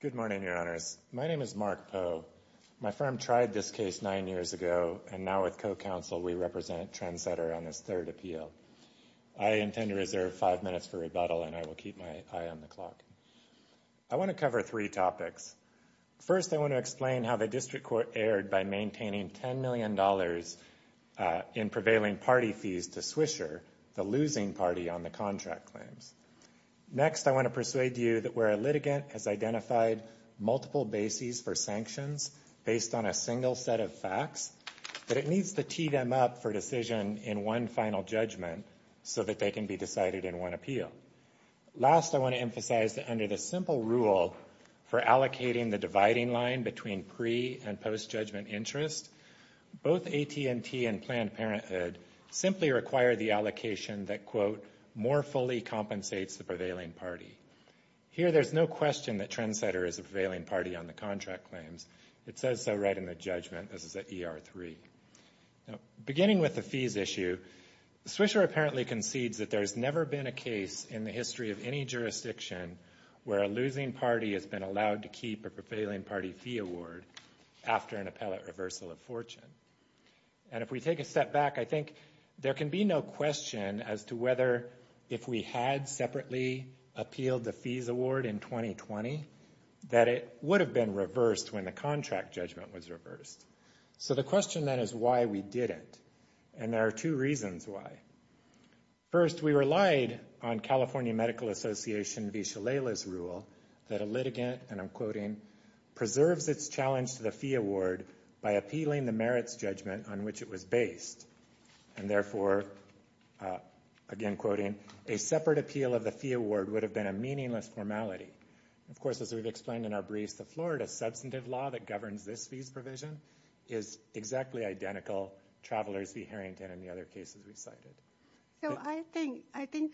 Good morning, Your Honors. My name is Mark Poe. My firm tried this case nine years ago, and now with co-counsel, we represent Trendsetter on this third appeal. I intend to reserve five minutes for rebuttal, and I will keep my eye on the clock. I want to cover three topics. First, I want to explain how the district court erred by maintaining $10 million in prevailing party fees to Swisher, the losing party on the contract claims. Next, I want to persuade you that where a litigant has identified multiple bases for sanctions based on a single set of facts, that it needs to tee them up for decision in one final judgment so that they can be decided in one appeal. Last, I want to emphasize that under the simple rule for allocating the dividing line between pre- and post-judgment interest, both AT&T and Planned Parenthood simply require the allocation that, quote, more fully compensates the prevailing party. Here there's no question that Trendsetter is a prevailing party on the contract claims. It says so right in the judgment. This is at ER3. Beginning with the fees issue, Swisher apparently concedes that there's never been a case in the history of any jurisdiction where a losing party has been allowed to keep a prevailing party fee award after an appellate reversal of fortune. And if we take a step back, I think there can be no question as to whether if we had separately appealed the fees award in 2020, that it would have been reversed when the contract judgment was reversed. So the question then is why we didn't. And there are two reasons why. First, we relied on California Medical Association v. Shalala's rule that a litigant, and I'm quoting, preserves its challenge to the fee award by appealing the merits judgment on which it was based. And therefore, again quoting, a separate appeal of the fee award would have been a meaningless formality. Of course, as we've explained in our briefs, the Florida substantive law that governs this fees provision is exactly identical, Travelers v. Harrington and the other cases we cited. I think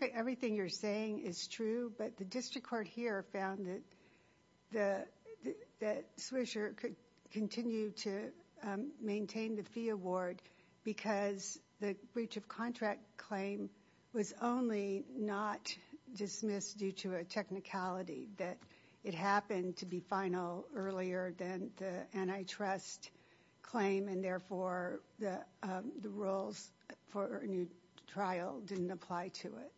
that everything you're saying is true, but the district court here found that Swisher could continue to maintain the fee award because the breach of contract claim was only not dismissed due to a technicality that it happened to be final earlier than the antitrust claim and therefore the rules for a new trial didn't apply to it.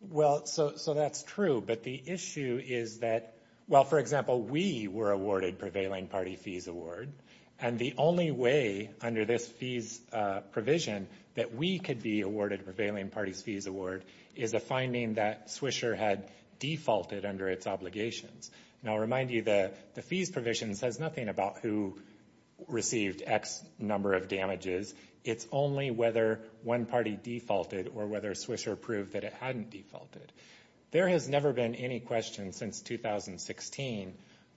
Well, so that's true, but the issue is that, well, for example, we were awarded prevailing party fees award, and the only way under this fees provision that we could be awarded prevailing parties fees award is a finding that Swisher had defaulted under its obligations. And I'll remind you that the fees provision says nothing about who received X number of damages. It's only whether one party defaulted or whether Swisher proved that it hadn't defaulted. There has never been any question since 2016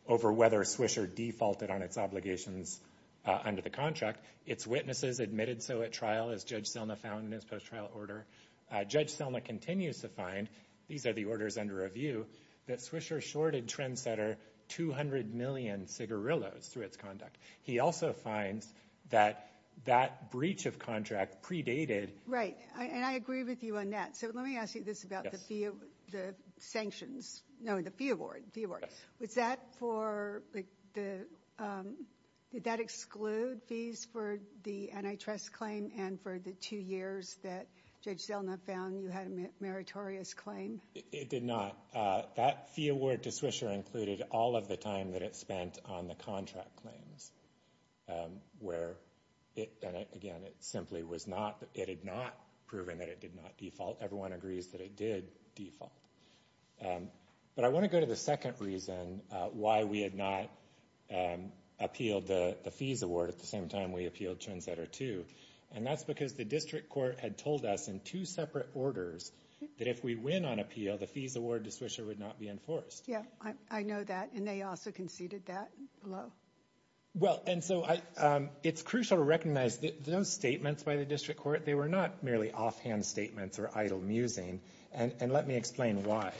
over whether Swisher defaulted on its obligations under the contract. Its witnesses admitted so at trial, as Judge Selma found in his post-trial order. Judge Selma continues to find, these are the orders under review, that Swisher shorted Trendsetter 200 million cigarillos through its conduct. He also finds that that breach of contract predated- Right. And I agree with you on that. So let me ask you this about the sanctions, no, the fee award. Was that for the, did that exclude fees for the antitrust claim and for the two years that Judge Selma found you had a meritorious claim? It did not. That fee award to Swisher included all of the time that it spent on the contract claims where it, and again, it simply was not, it had not proven that it did not default. Everyone agrees that it did default. But I want to go to the second reason why we had not appealed the fees award at the same time we appealed Trendsetter 2, and that's because the district court had told us in two separate orders that if we win on appeal, the fees award to Swisher would not be enforced. Yeah, I know that, and they also conceded that, hello? Well, and so it's crucial to recognize that those statements by the district court, they were not merely offhand statements or idle musing, and let me explain why.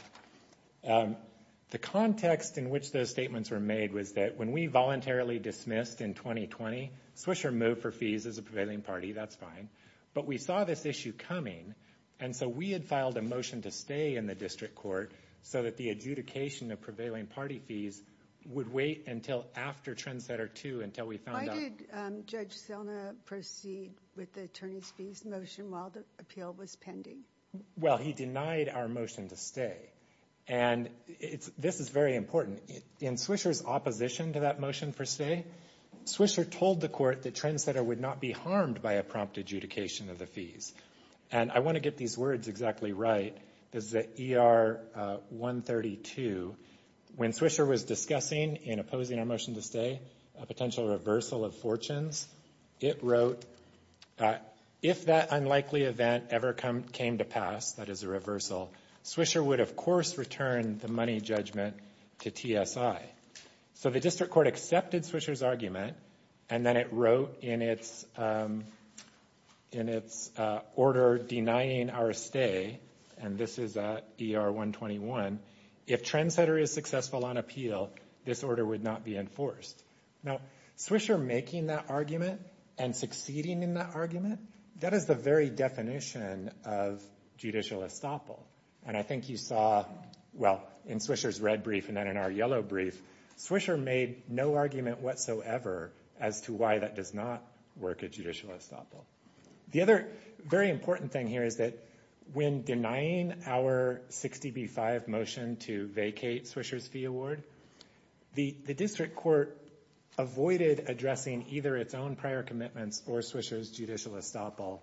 The context in which those statements were made was that when we voluntarily dismissed in 2020, Swisher moved for fees as a prevailing party, that's fine. But we saw this issue coming, and so we had filed a motion to stay in the district court so that the adjudication of prevailing party fees would wait until after Trendsetter 2 until we found out. Why did Judge Selna proceed with the attorney's fees motion while the appeal was pending? Well, he denied our motion to stay, and this is very important. In Swisher's opposition to that motion for stay, Swisher told the court that Trendsetter would not be harmed by a prompt adjudication of the fees. And I want to get these words exactly right, this is at ER 132, when Swisher was discussing in opposing our motion to stay a potential reversal of fortunes, it wrote, if that unlikely event ever came to pass, that is a reversal, Swisher would, of course, return the money judgment to TSI. So the district court accepted Swisher's argument, and then it wrote in its order denying our stay, and this is at ER 121, if Trendsetter is successful on appeal, this order would not be enforced. Now, Swisher making that argument and succeeding in that argument, that is the very definition of judicial estoppel, and I think you saw, well, in Swisher's red brief and then in our yellow brief, Swisher made no argument whatsoever as to why that does not work at judicial estoppel. The other very important thing here is that when denying our 60B-5 motion to vacate Swisher's fee award, the district court avoided addressing either its own prior commitments or Swisher's judicial estoppel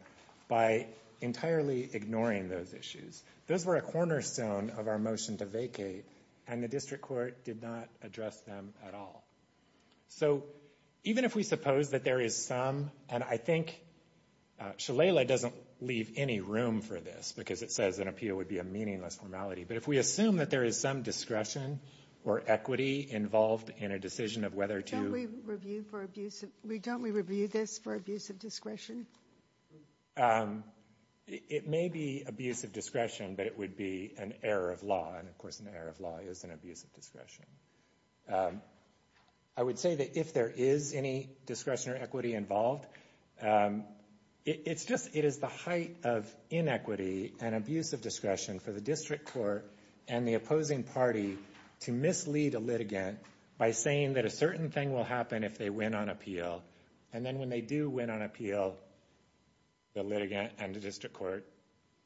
by entirely ignoring those issues. Those were a cornerstone of our motion to vacate, and the district court did not address them at all. So even if we suppose that there is some, and I think Shalala doesn't leave any room for this, because it says an appeal would be a meaningless formality, but if we assume that there is some discretion or equity involved in a decision of whether to- Don't we review this for abuse of discretion? It may be abuse of discretion, but it would be an error of law, and of course an error of law is an abuse of discretion. I would say that if there is any discretion or equity involved, it is the height of inequity and abuse of discretion for the district court and the opposing party to mislead a litigant by saying that a certain thing will happen if they win on appeal, and then when they do win on appeal, the litigant and the district court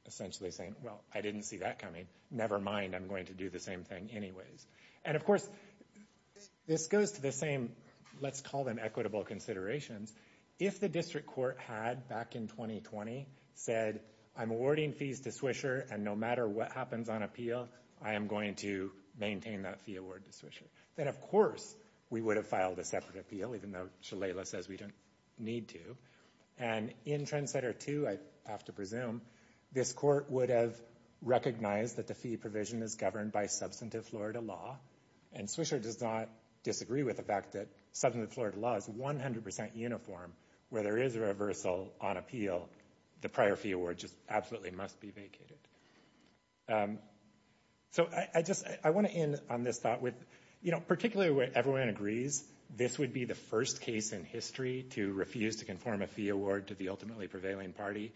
essentially saying, well, I didn't see that coming, never mind, I'm going to do the same thing anyways. And of course, this goes to the same, let's call them equitable considerations. If the district court had, back in 2020, said, I'm awarding fees to Swisher, and no matter what happens on appeal, I am going to maintain that fee award to Swisher, then of course we would have filed a separate appeal, even though Shalala says we don't need to. And in Trendsetter 2, I have to presume, this court would have recognized that the fee provision is governed by substantive Florida law, and Swisher does not disagree with the fact that substantive Florida law is 100% uniform where there is a reversal on appeal, the prior fee award just absolutely must be vacated. So I just, I want to end on this thought with, you know, particularly when everyone agrees this would be the first case in history to refuse to conform a fee award to the ultimately prevailing party.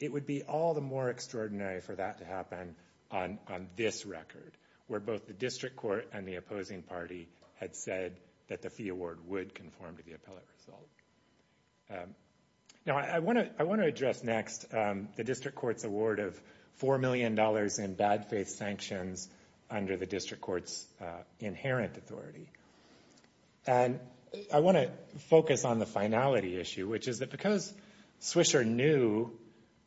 It would be all the more extraordinary for that to happen on this record, where both the district court and the opposing party had said that the fee award would conform to the appellate result. Now I want to address next the district court's award of $4 million in bad faith sanctions under the district court's inherent authority. And I want to focus on the finality issue, which is that because Swisher knew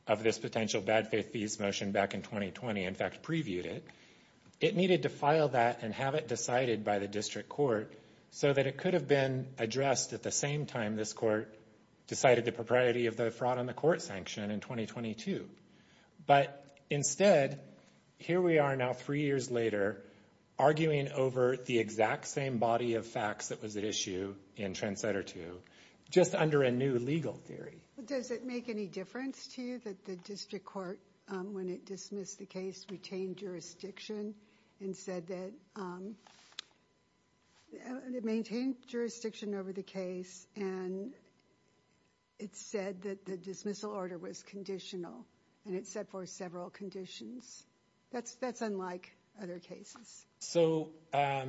of this potential bad faith fees motion back in 2020, in fact previewed it, it needed to file that and have it decided by the district court so that it could have been addressed at the same time this court decided the propriety of the fraud on the court sanction in 2022. But instead, here we are now three years later, arguing over the exact same body of facts that was at issue in Translator 2, just under a new legal theory. Does it make any difference to you that the district court, when it dismissed the case, retained jurisdiction and said that, it maintained jurisdiction over the case and it said that the dismissal order was conditional and it set forth several conditions? That's unlike other cases. So that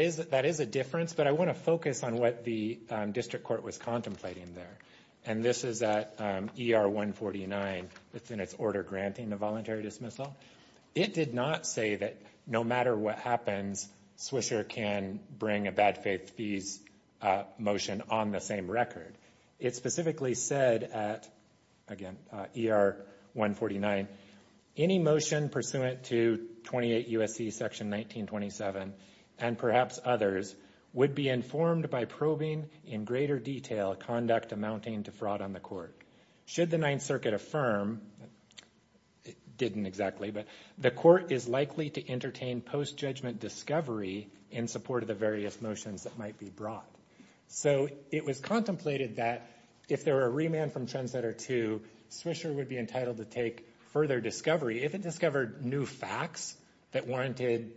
is a difference, but I want to focus on what the district court was contemplating there. And this is at ER 149 within its order granting a voluntary dismissal. It did not say that no matter what happens, Swisher can bring a bad faith fees motion on the same record. It specifically said at, again, ER 149, any motion pursuant to 28 U.S.C. section 1927 and perhaps others would be informed by probing in greater detail conduct amounting to fraud on the court. Should the Ninth Circuit affirm, it didn't exactly, but the court is likely to entertain post-judgment discovery in support of the various motions that might be brought. So it was contemplated that if there were a remand from trendsetter two, Swisher would be entitled to take further discovery if it discovered new facts that warranted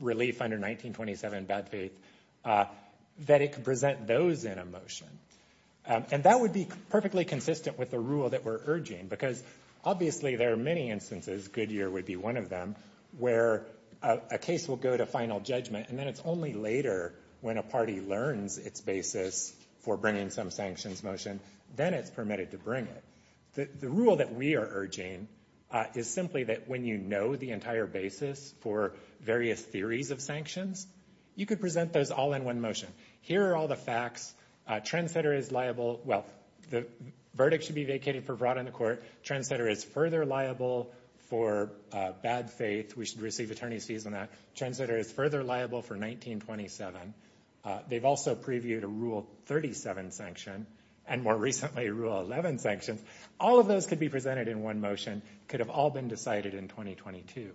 relief under 1927 bad faith, that it could present those in a motion. And that would be perfectly consistent with the rule that we're urging because obviously there are many instances, Goodyear would be one of them, where a case will go to final judgment and then it's only later when a party learns its basis for bringing some sanctions motion, then it's permitted to bring it. The rule that we are urging is simply that when you know the entire basis for various theories of sanctions, you could present those all in one motion. Here are all the facts. Trendsetter is liable, well, the verdict should be vacated for fraud on the court. Trendsetter is further liable for bad faith, we should receive attorney's fees on that. Trendsetter is further liable for 1927. They've also previewed a rule 37 sanction and more recently rule 11 sanctions. All of those could be presented in one motion, could have all been decided in 2022.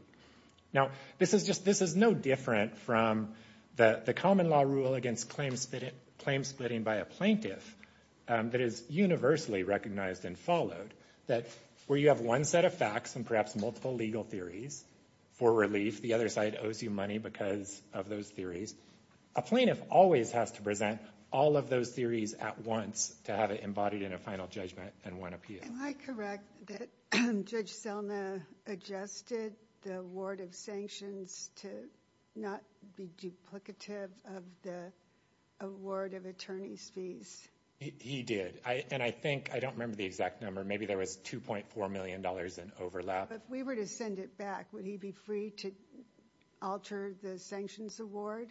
Now this is just, this is no different from the common law rule against claim splitting by a plaintiff that is universally recognized and followed, that where you have one set of facts and perhaps multiple legal theories for relief, the other side owes you money because of those theories, a plaintiff always has to present all of those theories at once to have it embodied in a final judgment and one appeal. Am I correct that Judge Selma adjusted the award of sanctions to not be duplicative of the award of attorney's fees? He did. And I think, I don't remember the exact number, maybe there was $2.4 million in overlap. If we were to send it back, would he be free to alter the sanctions award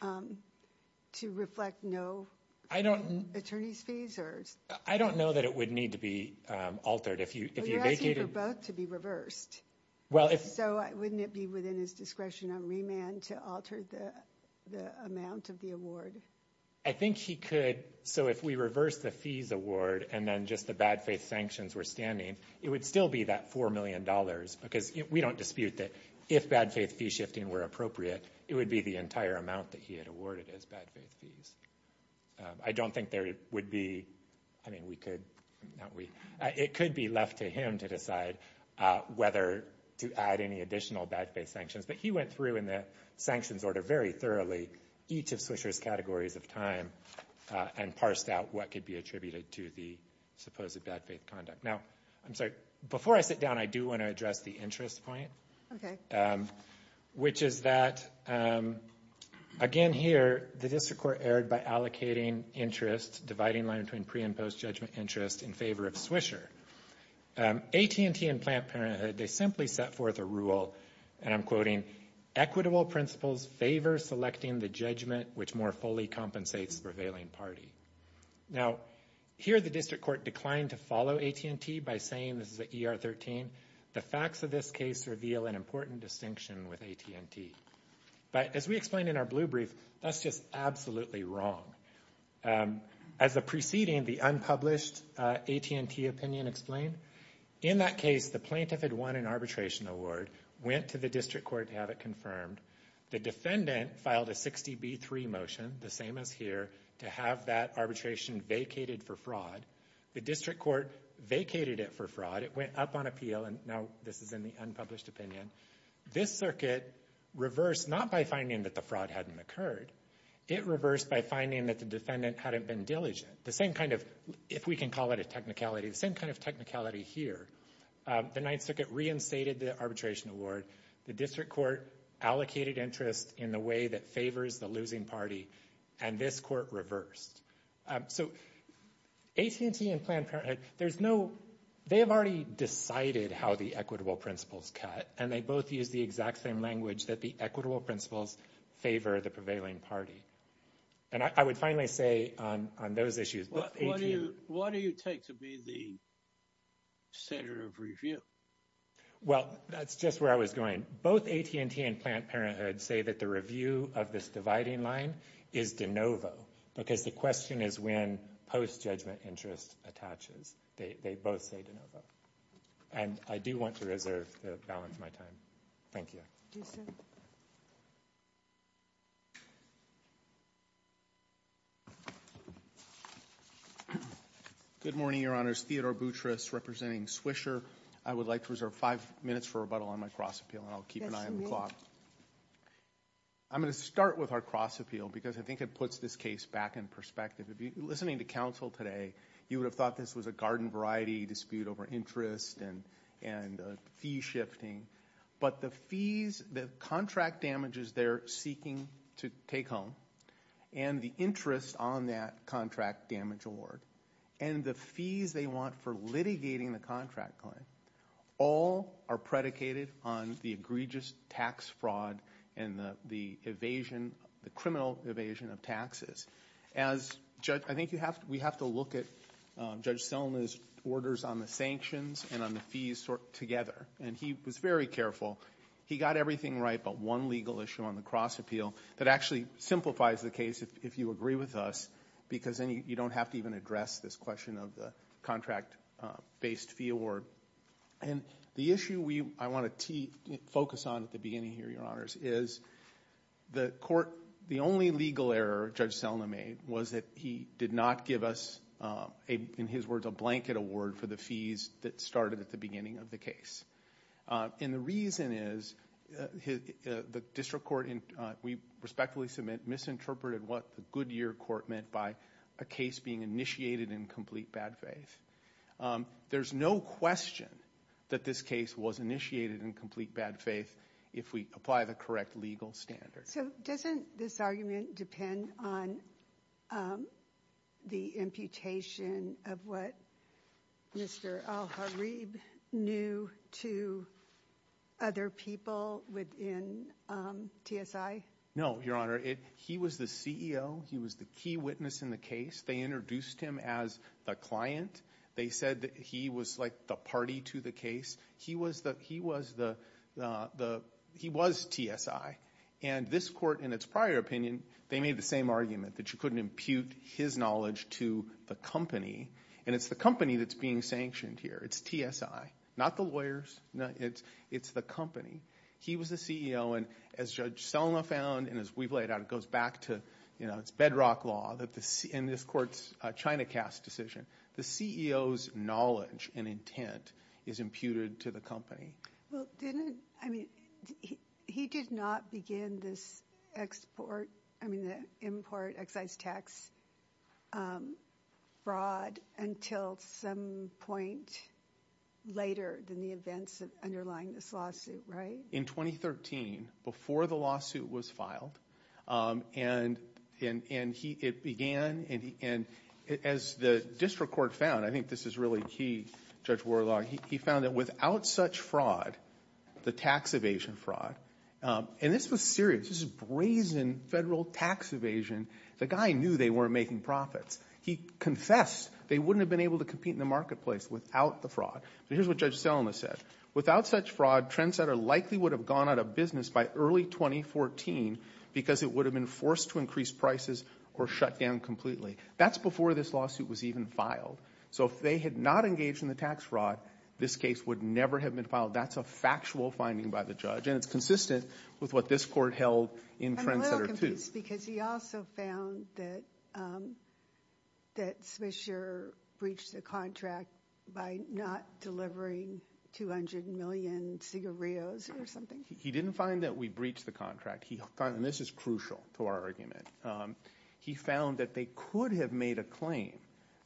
to reflect no attorney's fees? I don't know that it would need to be altered. If you vacated- But you're asking for both to be reversed. So wouldn't it be within his discretion on remand to alter the amount of the award? I think he could. So if we reverse the fees award and then just the bad faith sanctions were standing, it would still be that $4 million because we don't dispute that if bad faith fee shifting were appropriate, it would be the entire amount that he had awarded as bad faith fees. I don't think there would be, I mean, we could, it could be left to him to decide whether to add any additional bad faith sanctions, but he went through in the sanctions order very thoroughly each of Swisher's categories of time and parsed out what could be attributed to the supposed bad faith conduct. Now, I'm sorry, before I sit down, I do want to address the interest point, which is that, again here, the district court erred by allocating interest, dividing line between pre and post judgment interest in favor of Swisher. AT&T and Planned Parenthood, they simply set forth a rule, and I'm quoting, equitable principles favor selecting the judgment which more fully compensates the prevailing party. Now, here the district court declined to follow AT&T by saying, this is an ER 13, the facts of this case reveal an important distinction with AT&T. But as we explained in our blue brief, that's just absolutely wrong. As the preceding, the unpublished AT&T opinion explained, in that case, the plaintiff had won an arbitration award, went to the district court to have it confirmed, the defendant filed a 60B3 motion, the same as here, to have that arbitration vacated for fraud. The district court vacated it for fraud, it went up on appeal, and now this is in the unpublished opinion. This circuit reversed, not by finding that the fraud hadn't occurred, it reversed by finding that the defendant hadn't been diligent. The same kind of, if we can call it a technicality, the same kind of technicality here. The Ninth Circuit reinstated the arbitration award, the district court allocated interest in the way that favors the losing party, and this court reversed. So AT&T and Planned Parenthood, there's no, they have already decided how the equitable principles cut, and they both use the exact same language, that the equitable principles favor the prevailing party. And I would finally say on those issues, that AT&T... What do you take to be the center of review? Well, that's just where I was going. Both AT&T and Planned Parenthood say that the review of this dividing line is de novo, because the question is when post-judgment interest attaches. They both say de novo. And I do want to reserve the balance of my time. Thank you. Do you see... Good morning, Your Honors. Theodore Boutrous, representing Swisher. I would like to reserve five minutes for rebuttal on my cross-appeal, and I'll keep an eye on the clock. I'm going to start with our cross-appeal, because I think it puts this case back in perspective. If you're listening to counsel today, you would have thought this was a garden variety dispute over interest and fee shifting, but the fees, the contract damages they're seeking to take home, and the interest on that contract damage award, and the fees they want for litigating the contract claim, all are predicated on the egregious tax fraud and the criminal evasion of taxes. As judge... I think we have to look at Judge Selna's orders on the sanctions and on the fees together, and he was very careful. He got everything right, but one legal issue on the cross-appeal that actually simplifies the case, if you agree with us, because then you don't have to even address this question of the contract-based fee award. The issue I want to focus on at the beginning here, Your Honors, is the court... The only legal error Judge Selna made was that he did not give us, in his words, a blanket award for the fees that started at the beginning of the case. And the reason is, the district court, we respectfully submit, misinterpreted what the Goodyear court meant by a case being initiated in complete bad faith. There's no question that this case was initiated in complete bad faith if we apply the correct legal standard. So doesn't this argument depend on the imputation of what Mr. Al-Harib knew to other people within TSI? No, Your Honor. He was the CEO. He was the key witness in the case. They introduced him as the client. They said that he was like the party to the case. He was TSI. And this court, in its prior opinion, they made the same argument, that you couldn't impute his knowledge to the company. And it's the company that's being sanctioned here. It's TSI. Not the lawyers. It's the company. He was the CEO. And as Judge Selna found, and as we've laid out, it goes back to, you know, it's bedrock law, and this court's ChinaCast decision. The CEO's knowledge and intent is imputed to the company. Well, didn't, I mean, he did not begin this export, I mean, the import excise tax fraud until some point later than the events underlying this lawsuit, right? In 2013, before the lawsuit was filed. And it began, and as the district court found, I think this is really key, Judge Warlock, he found that without such fraud, the tax evasion fraud, and this was serious. This is brazen federal tax evasion. The guy knew they weren't making profits. He confessed they wouldn't have been able to compete in the marketplace without the But here's what Judge Selna said, without such fraud, Trendsetter likely would have gone out of business by early 2014, because it would have been forced to increase prices or shut down completely. That's before this lawsuit was even filed. So if they had not engaged in the tax fraud, this case would never have been filed. That's a factual finding by the judge, and it's consistent with what this court held in Trendsetter, too. I'm a little confused, because he also found that Smithshire breached the contract by not delivering 200 million cigarettes or something. He didn't find that we breached the contract. This is crucial to our argument. He found that they could have made a claim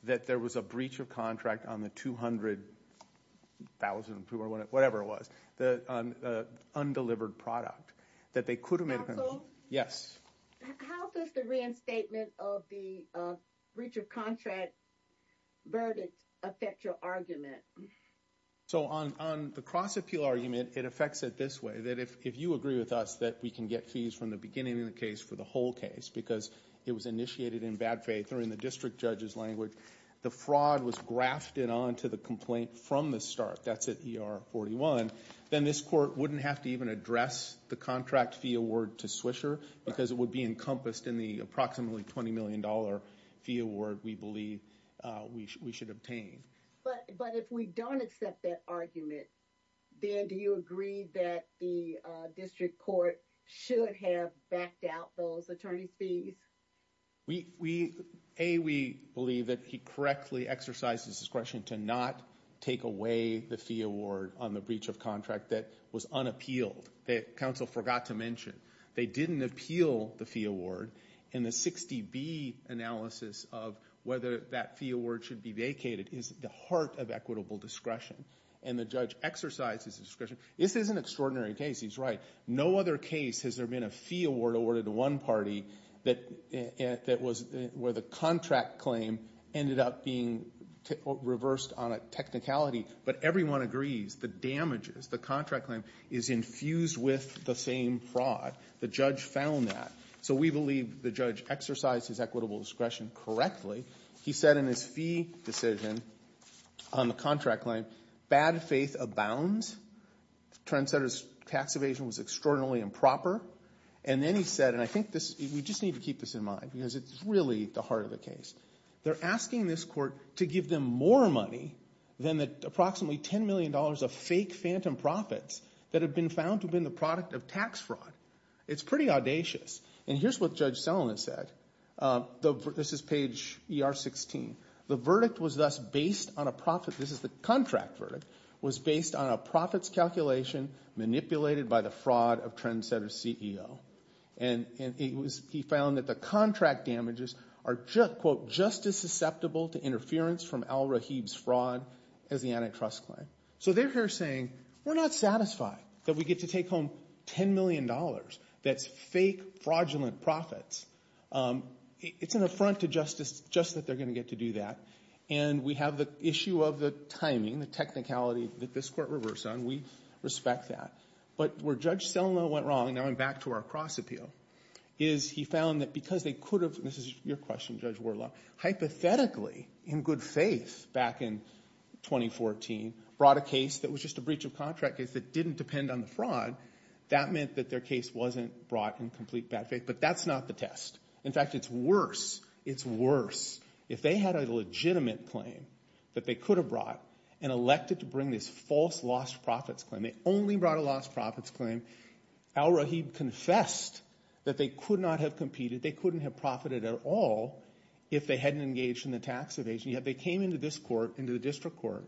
that there was a breach of contract on the 200,000, whatever it was, the undelivered product. That they could have made a claim. Counsel? Yes. How does the reinstatement of the breach of contract verdict affect your argument? So on the cross-appeal argument, it affects it this way, that if you agree with us that we can get fees from the beginning of the case for the whole case, because it was initiated in bad faith or in the district judge's language, the fraud was grafted onto the complaint from the start. That's at ER 41. Then this court wouldn't have to even address the contract fee award to Swisher, because it would be encompassed in the approximately $20 million fee award we believe we should obtain. But if we don't accept that argument, then do you agree that the district court should have backed out those attorney fees? A, we believe that he correctly exercised his discretion to not take away the fee award on the breach of contract that was unappealed, that counsel forgot to mention. They didn't appeal the fee award, and the 60B analysis of whether that fee award should be vacated is at the heart of equitable discretion. And the judge exercised his discretion. This is an extraordinary case, he's right. No other case has there been a fee award awarded to one party where the contract claim ended up being reversed on a technicality. But everyone agrees the damages, the contract claim, is infused with the same fraud. The judge found that. So we believe the judge exercised his equitable discretion correctly. He said in his fee decision on the contract claim, bad faith abounds, the trendsetter's tax evasion was extraordinarily improper. And then he said, and I think we just need to keep this in mind, because it's really the heart of the case. They're asking this court to give them more money than the approximately $10 million of fake phantom profits that have been found to have been the product of tax fraud. It's pretty audacious. And here's what Judge Selinan said. This is page ER 16. The verdict was thus based on a profit, this is the contract verdict, was based on a profits calculation manipulated by the fraud of trendsetter's CEO. And he found that the contract damages are, quote, just as susceptible to interference from Al-Rahib's fraud as the antitrust claim. So they're here saying, we're not satisfied that we get to take home $10 million that's fake fraudulent profits. It's an affront to justice just that they're going to get to do that. And we have the issue of the timing, the technicality that this court reversed on. We respect that. But where Judge Selinan went wrong, now I'm back to our cross appeal, is he found that because they could have, this is your question, Judge Warlock, hypothetically, in good faith back in 2014, brought a case that was just a breach of contract case that didn't depend on the fraud, that meant that their case wasn't brought in complete bad faith. But that's not the test. In fact, it's worse, it's worse. If they had a legitimate claim that they could have brought and elected to bring this false lost profits claim, they only brought a lost profits claim, Al-Rahib confessed that they could not have competed, they couldn't have profited at all if they hadn't engaged in the tax evasion. Yet they came into this court, into the district court,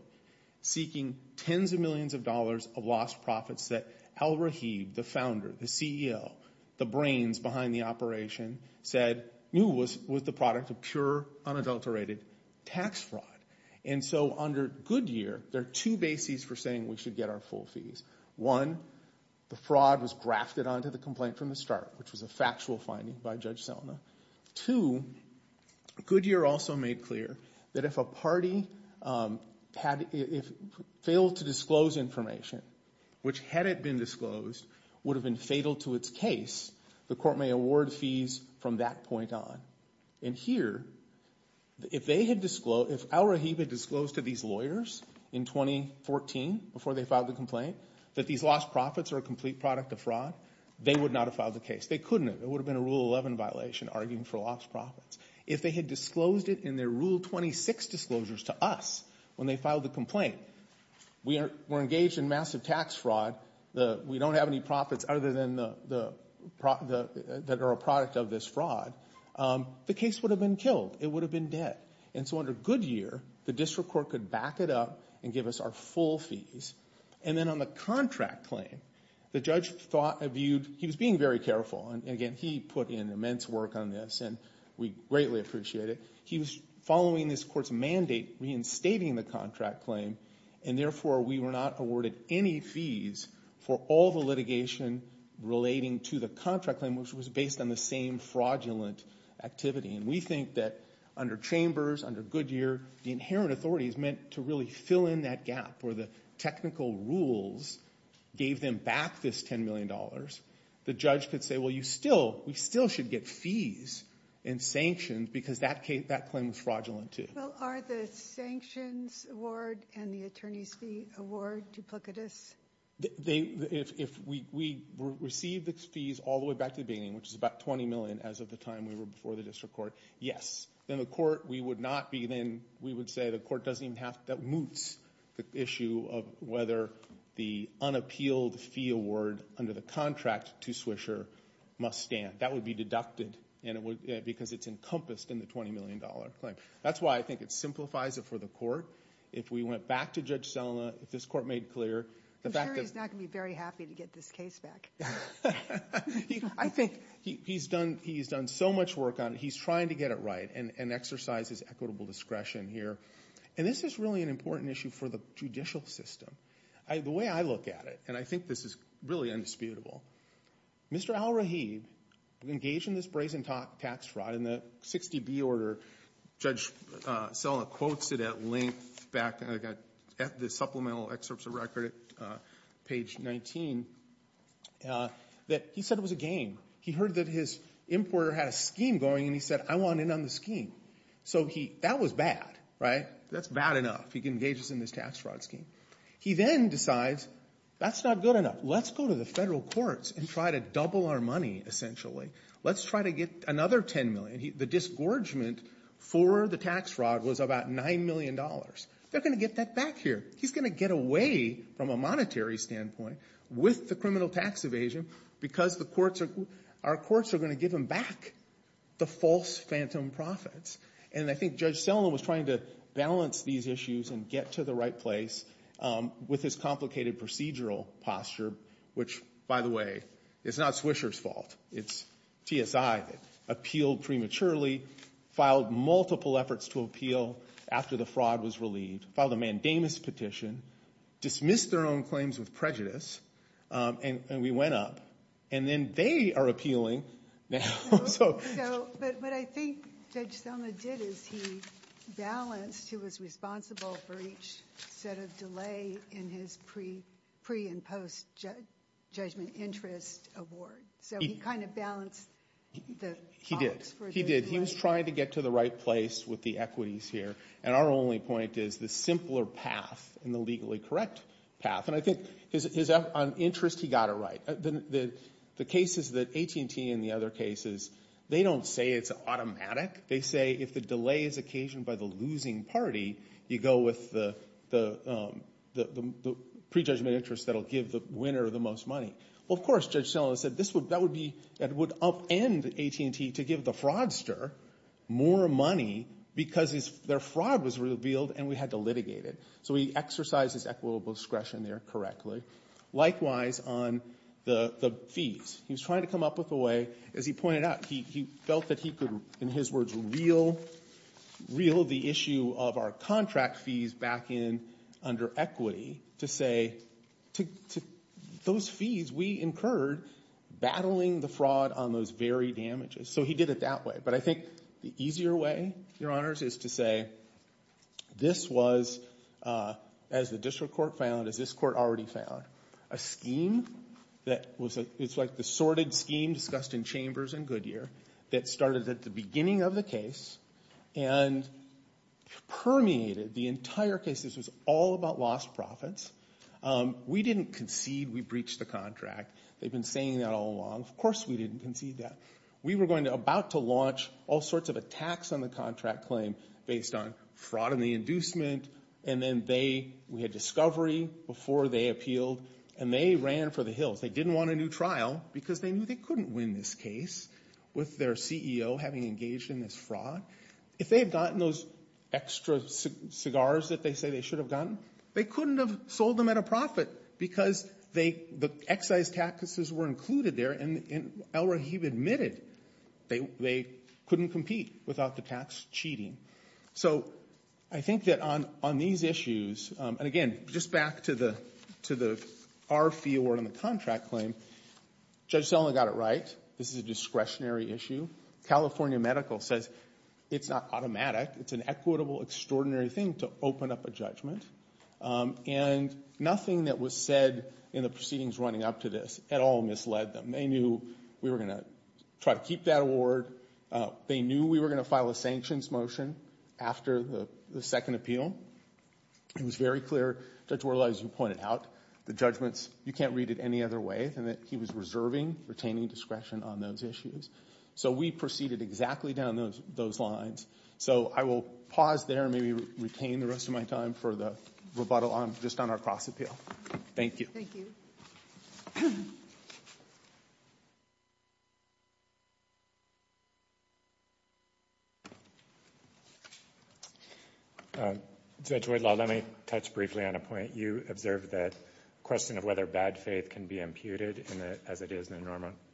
seeking tens of millions of dollars of lost profits that Al-Rahib, the founder, the CEO, the brains behind the operation said knew was the product of pure, unadulterated tax fraud. And so under Goodyear, there are two bases for saying we should get our full fees. One, the fraud was grafted onto the complaint from the start, which was a factual finding by Judge Selma. Two, Goodyear also made clear that if a party had, if failed to disclose information, which had it been disclosed, would have been fatal to its case, the court may award fees from that point on. And here, if they had disclosed, if Al-Rahib had disclosed to these lawyers in 2014, before they filed the complaint, that these lost profits are a complete product of fraud, they would not have filed the case. They couldn't have. It would have been a Rule 11 violation, arguing for lost profits. If they had disclosed it in their Rule 26 disclosures to us, when they filed the complaint, we are engaged in massive tax fraud, we don't have any profits other than the, that are a product of this fraud, the case would have been killed. It would have been dead. And so under Goodyear, the district court could back it up and give us our full fees. And then on the contract claim, the judge thought, viewed, he was being very careful, and again, he put in immense work on this, and we greatly appreciate it. He was following this court's mandate, reinstating the contract claim, and therefore we were not awarded any fees for all the litigation relating to the contract claim, which was based on the same fraudulent activity. And we think that under Chambers, under Goodyear, the inherent authority is meant to really fill in that gap, where the technical rules gave them back this $10 million. The judge could say, well, you still, we still should get fees and sanctions, because that claim was fraudulent too. Well, are the sanctions award and the attorney's fee award duplicitous? If we receive the fees all the way back to the beginning, which is about $20 million as of the time we were before the district court, yes. In the court, we would not be then, we would say the court doesn't even have to, that moots the issue of whether the unappealed fee award under the contract to Swisher must stand. That would be deducted, because it's encompassed in the $20 million claim. That's why I think it simplifies it for the court. If we went back to Judge Selina, if this court made clear, the fact that- I'm sure he's not going to be very happy to get this case back. I think- He's done so much work on it. He's trying to get it right and exercise his equitable discretion here. And this is really an important issue for the judicial system. The way I look at it, and I think this is really indisputable, Mr. Al-Rahid engaged in this brazen tax fraud in the 60B order. Judge Selina quotes it at length back at the supplemental excerpts of record at page 19, that he said it was a game. He heard that his importer had a scheme going, and he said, I want in on the scheme. So he- That was bad, right? That's bad enough. He engages in this tax fraud scheme. He then decides, that's not good enough. Let's go to the federal courts and try to double our money, essentially. Let's try to get another $10 million. The disgorgement for the tax fraud was about $9 million. They're going to get that back here. He's going to get away, from a monetary standpoint, with the criminal tax evasion because the courts are- Our courts are going to give him back the false phantom profits. And I think Judge Selina was trying to balance these issues and get to the right place with his complicated procedural posture, which, by the way, is not Swisher's fault. It's TSI that appealed prematurely, filed multiple efforts to appeal after the fraud was relieved, filed a mandamus petition, dismissed their own claims with prejudice, and we went up. And then they are appealing now. So- But what I think Judge Selina did is he balanced, he was responsible for each set of delay in his pre- and post-judgment interest award. So he kind of balanced the odds for the- He did. He was trying to get to the right place with the equities here. And our only point is the simpler path and the legally correct path. And I think on interest, he got it right. The cases that AT&T and the other cases, they don't say it's automatic. They say if the delay is occasioned by the losing party, you go with the pre-judgment interest that will give the winner the most money. Well, of course, Judge Selina said that would be- that would upend AT&T to give the fraudster more money because their fraud was revealed and we had to litigate it. So he exercised his equitable discretion there correctly. Likewise on the fees, he was trying to come up with a way, as he pointed out, he felt that he could, in his words, reel the issue of our contract fees back in under equity to say, those fees we incurred battling the fraud on those very damages. So he did it that way. But I think the easier way, Your Honors, is to say this was, as the district court found, as this court already found, a scheme that was- it's like the sorted scheme discussed in Chambers and Goodyear that started at the beginning of the case and permeated the entire case. This was all about lost profits. We didn't concede we breached the contract. They've been saying that all along. Of course we didn't concede that. We were going to- about to launch all sorts of attacks on the contract claim based on fraud and the inducement and then they- we had discovery before they appealed and they ran for the hills. They didn't want a new trial because they knew they couldn't win this case with their CEO having engaged in this fraud. If they had gotten those extra cigars that they say they should have gotten, they couldn't have sold them at a profit because they- the excise taxes were included there and El Rahib admitted they couldn't compete without the tax cheating. So I think that on these issues- and again, just back to the- our fee award on the contract claim, Judge Celna got it right. This is a discretionary issue. California Medical says it's not automatic, it's an equitable, extraordinary thing to open up a judgment and nothing that was said in the proceedings running up to this at all misled them. They knew we were going to try to keep that award. They knew we were going to file a sanctions motion after the second appeal. It was very clear, Judge Worley, as you pointed out, the judgments- you can't read it any other way than that he was reserving, retaining discretion on those issues. So we proceeded exactly down those lines. So I will pause there and maybe retain the rest of my time for the rebuttal on- just on our cross-appeal. Thank you. Thank you. Judge Whitlaw, let me touch briefly on a point. You observed that question of whether bad faith can be imputed in a- as it is in a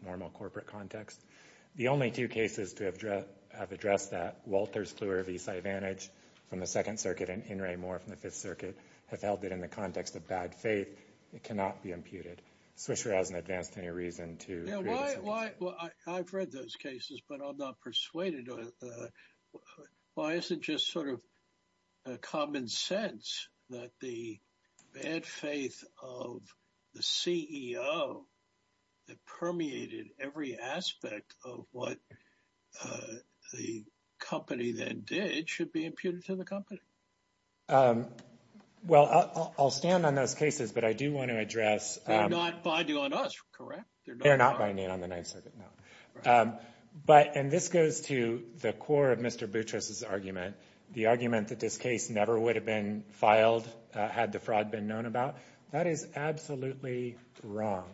normal corporate context. The only two cases to have addressed that, Walters Kluwer v. Syvantage from the Second Circuit and In re Moore from the Fifth Circuit, have held that in the context of bad faith, it cannot be imputed. I'm not sure I was in advance to any reason to- Yeah, why- I've read those cases, but I'm not persuaded on- why is it just sort of common sense that the bad faith of the CEO that permeated every aspect of what the company then did should be imputed to the company? Well, I'll stand on those cases, but I do want to address- They're not binding on us, correct? They're not binding on the Ninth Circuit, no. But- and this goes to the core of Mr. Boutros' argument, the argument that this case never would have been filed had the fraud been known about. That is absolutely wrong.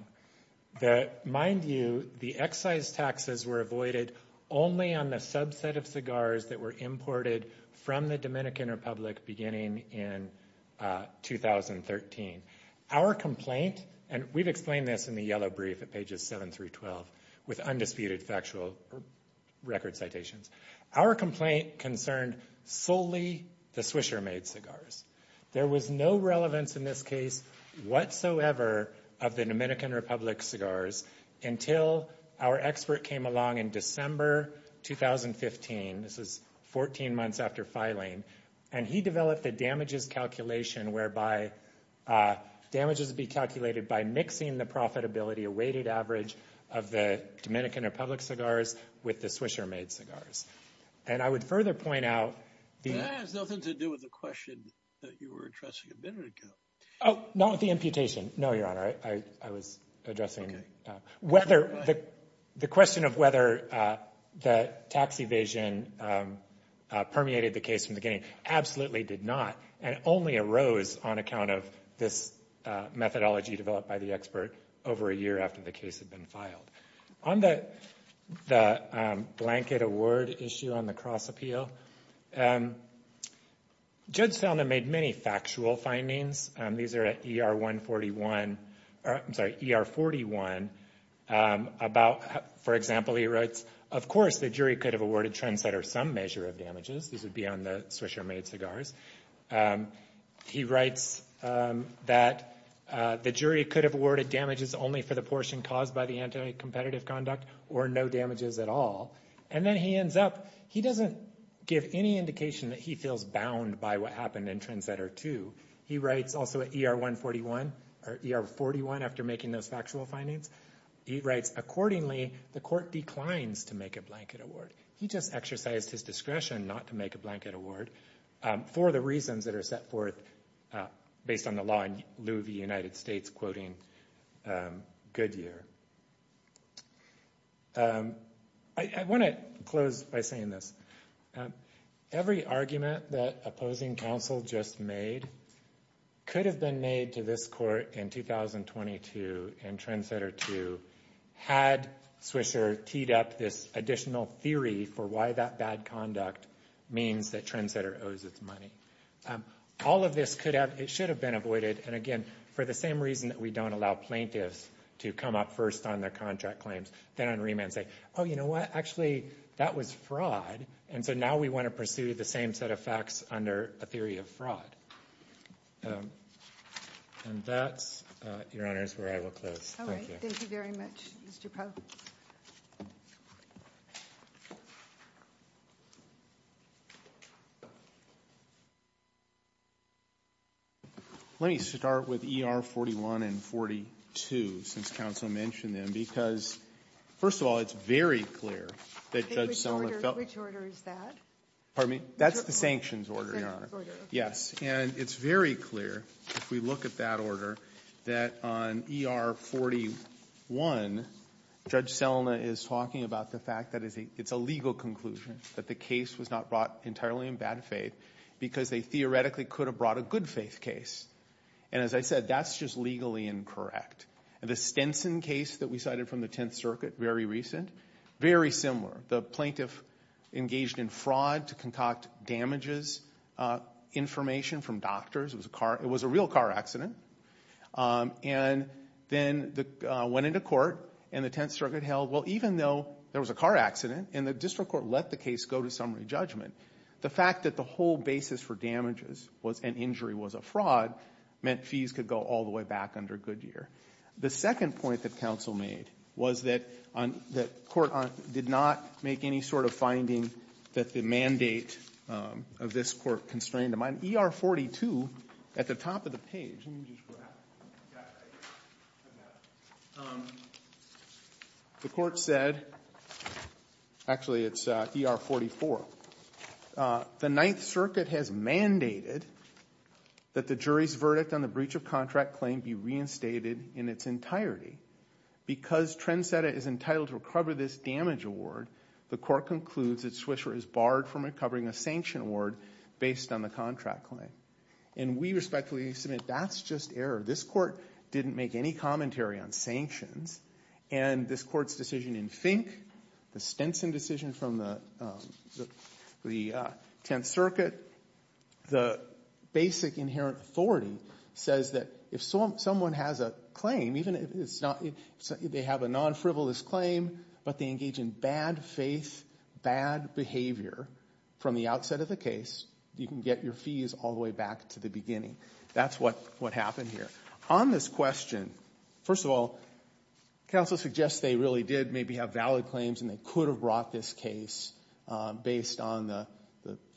The- mind you, the excise taxes were avoided only on the subset of cigars that were imported from the Dominican Republic beginning in 2013. Our complaint- and we've explained this in the yellow brief at pages 7 through 12 with undisputed factual record citations. Our complaint concerned solely the Swisher-made cigars. There was no relevance in this case whatsoever of the Dominican Republic cigars until our expert came along in December 2015, this was 14 months after filing, and he developed the damages calculation whereby damages would be calculated by mixing the profitability awaited average of the Dominican Republic cigars with the Swisher-made cigars. And I would further point out the- That has nothing to do with the question that you were addressing a minute ago. Oh, not with the imputation, no, Your Honor. I was addressing whether- the question of whether the tax evasion permeated the case from the beginning absolutely did not, and only arose on account of this methodology developed by the expert over a year after the case had been filed. On the blanket award issue on the cross-appeal, Judge Salna made many factual findings. These are at ER-141- I'm sorry, ER-41 about, for example, he writes, of course, the jury could have awarded Trendsetter some measure of damages, this would be on the Swisher-made cigars. He writes that the jury could have awarded damages only for the portion caused by the anti-competitive conduct, or no damages at all. And then he ends up- he doesn't give any indication that he feels bound by what happened in Trendsetter 2. He writes also at ER-141, or ER-41 after making those factual findings, he writes, accordingly, the court declines to make a blanket award. He just exercised his discretion not to make a blanket award for the reasons that are set forth based on the law in lieu of the United States quoting Goodyear. I want to close by saying this. Every argument that opposing counsel just made could have been made to this court in 2022 in Trendsetter 2 had Swisher teed up this additional theory for why that bad conduct means that Trendsetter owes its money. All of this could have- it should have been avoided, and again, for the same reason that we don't allow plaintiffs to come up first on their contract claims, then on remand say, oh, you know what, actually, that was fraud, and so now we want to pursue the same set of facts under a theory of fraud. And that's, Your Honor, is where I will close. Thank you. Thank you very much, Mr. Powell. Let me start with ER-41 and 42, since counsel mentioned them, because, first of all, it's very clear that Judge Selma felt- Which order is that? Pardon me? Which order? That's the sanctions order, Your Honor. Yes. And it's very clear, if we look at that order, that on ER-41, Judge Selma is talking about the fact that it's a legal conclusion, that the case was not brought entirely in bad faith, because they theoretically could have brought a good faith case. And as I said, that's just legally incorrect. And the Stenson case that we cited from the Tenth Circuit, very recent, very similar. The plaintiff engaged in fraud to concoct damages information from doctors. It was a real car accident. And then went into court, and the Tenth Circuit held, well, even though there was a car accident and the district court let the case go to summary judgment, the fact that the whole basis for damages and injury was a fraud meant fees could go all the way back under Goodyear. The second point that counsel made was that court did not make any sort of finding that the mandate of this Court constrained them. On ER-42, at the top of the page, let me just grab that. The Court said, actually, it's ER-44. The Ninth Circuit has mandated that the jury's verdict on the breach of contract claim be reinstated in its entirety. Because Trendsetter is entitled to recover this damage award, the Court concludes that Swisher is barred from recovering a sanction award based on the contract claim. And we respectfully submit that's just error. This Court didn't make any commentary on sanctions. And this Court's decision in Fink, the Stenson decision from the Tenth Circuit, the basic inherent authority says that if someone has a claim, even if they have a non-frivolous claim, but they engage in bad faith, bad behavior from the outset of the case, you can get your fees all the way back to the beginning. That's what happened here. On this question, first of all, counsel suggests they really did maybe have valid claims and they could have brought this case based on the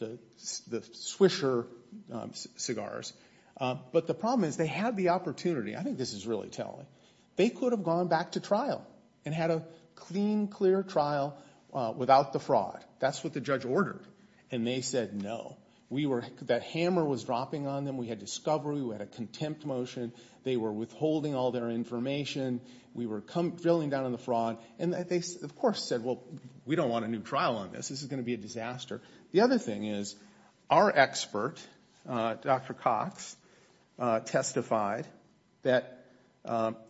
Swisher cigars. But the problem is they had the opportunity. I think this is really telling. They could have gone back to trial and had a clean, clear trial without the fraud. That's what the judge ordered. And they said no. That hammer was dropping on them. We had discovery. We had a contempt motion. They were withholding all their information. We were drilling down on the fraud. And they, of course, said, well, we don't want a new trial on this. This is going to be a disaster. The other thing is our expert, Dr. Cox, testified that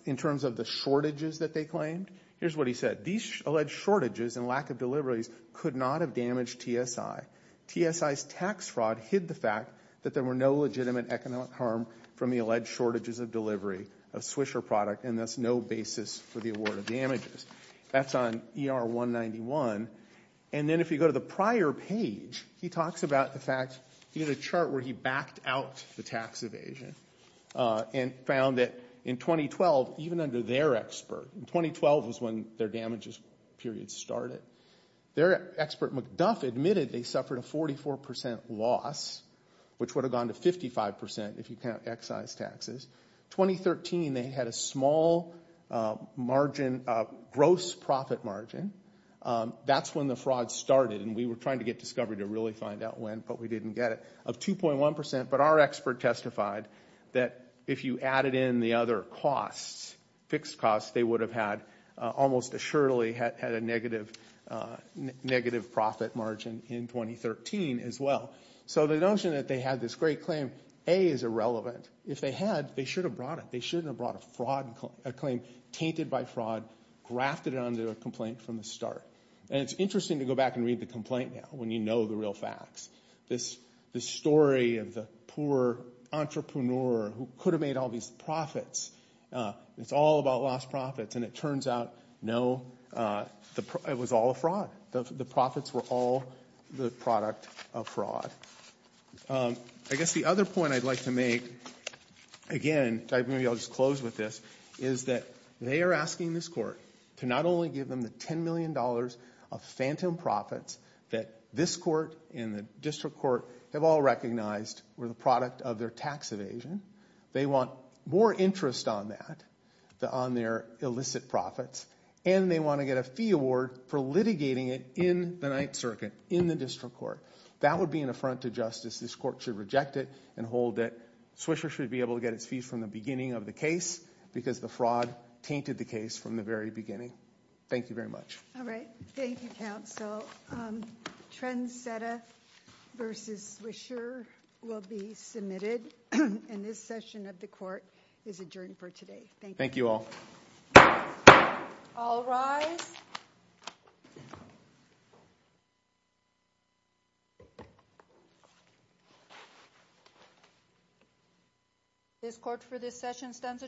in terms of the shortages that they claimed, here's what he said. These alleged shortages and lack of deliveries could not have damaged TSI. TSI's tax fraud hid the fact that there were no legitimate economic harm from the alleged shortages of delivery of Swisher product and thus no basis for the award of damages. That's on ER-191. And then if you go to the prior page, he talks about the fact, he had a chart where he backed out the tax evasion and found that in 2012, even under their expert, 2012 was when their damages period started, their expert, McDuff, admitted they suffered a 44% loss, which would have gone to 55% if you count excise taxes. 2013, they had a small margin, gross profit margin. That's when the fraud started, and we were trying to get discovery to really find out when, but we didn't get it, of 2.1%. But our expert testified that if you added in the other costs, fixed costs, they would have had almost assuredly had a negative profit margin in 2013 as well. So the notion that they had this great claim, A, is irrelevant. If they had, they should have brought it. They shouldn't have brought a claim tainted by fraud, grafted it onto a complaint from the start. And it's interesting to go back and read the complaint now when you know the real facts. This story of the poor entrepreneur who could have made all these profits, it's all about lost profits, and it turns out, no, it was all a fraud. The profits were all the product of fraud. I guess the other point I'd like to make, again, maybe I'll just close with this, is that they are asking this court to not only give them the $10 million of phantom profits that this court and the district court have all recognized were the product of their tax evasion. They want more interest on that, on their illicit profits, and they want to get a fee award for litigating it in the Ninth Circuit, in the district court. That would be an affront to justice. This court should reject it and hold it. Swisher should be able to get its fees from the beginning of the case because the fraud tainted the case from the very beginning. Thank you very much. All right. Thank you, counsel. Trent Seta v. Swisher will be submitted, and this session of the court is adjourned for today. Thank you. Thank you all. All rise. This court for this session stands adjourned.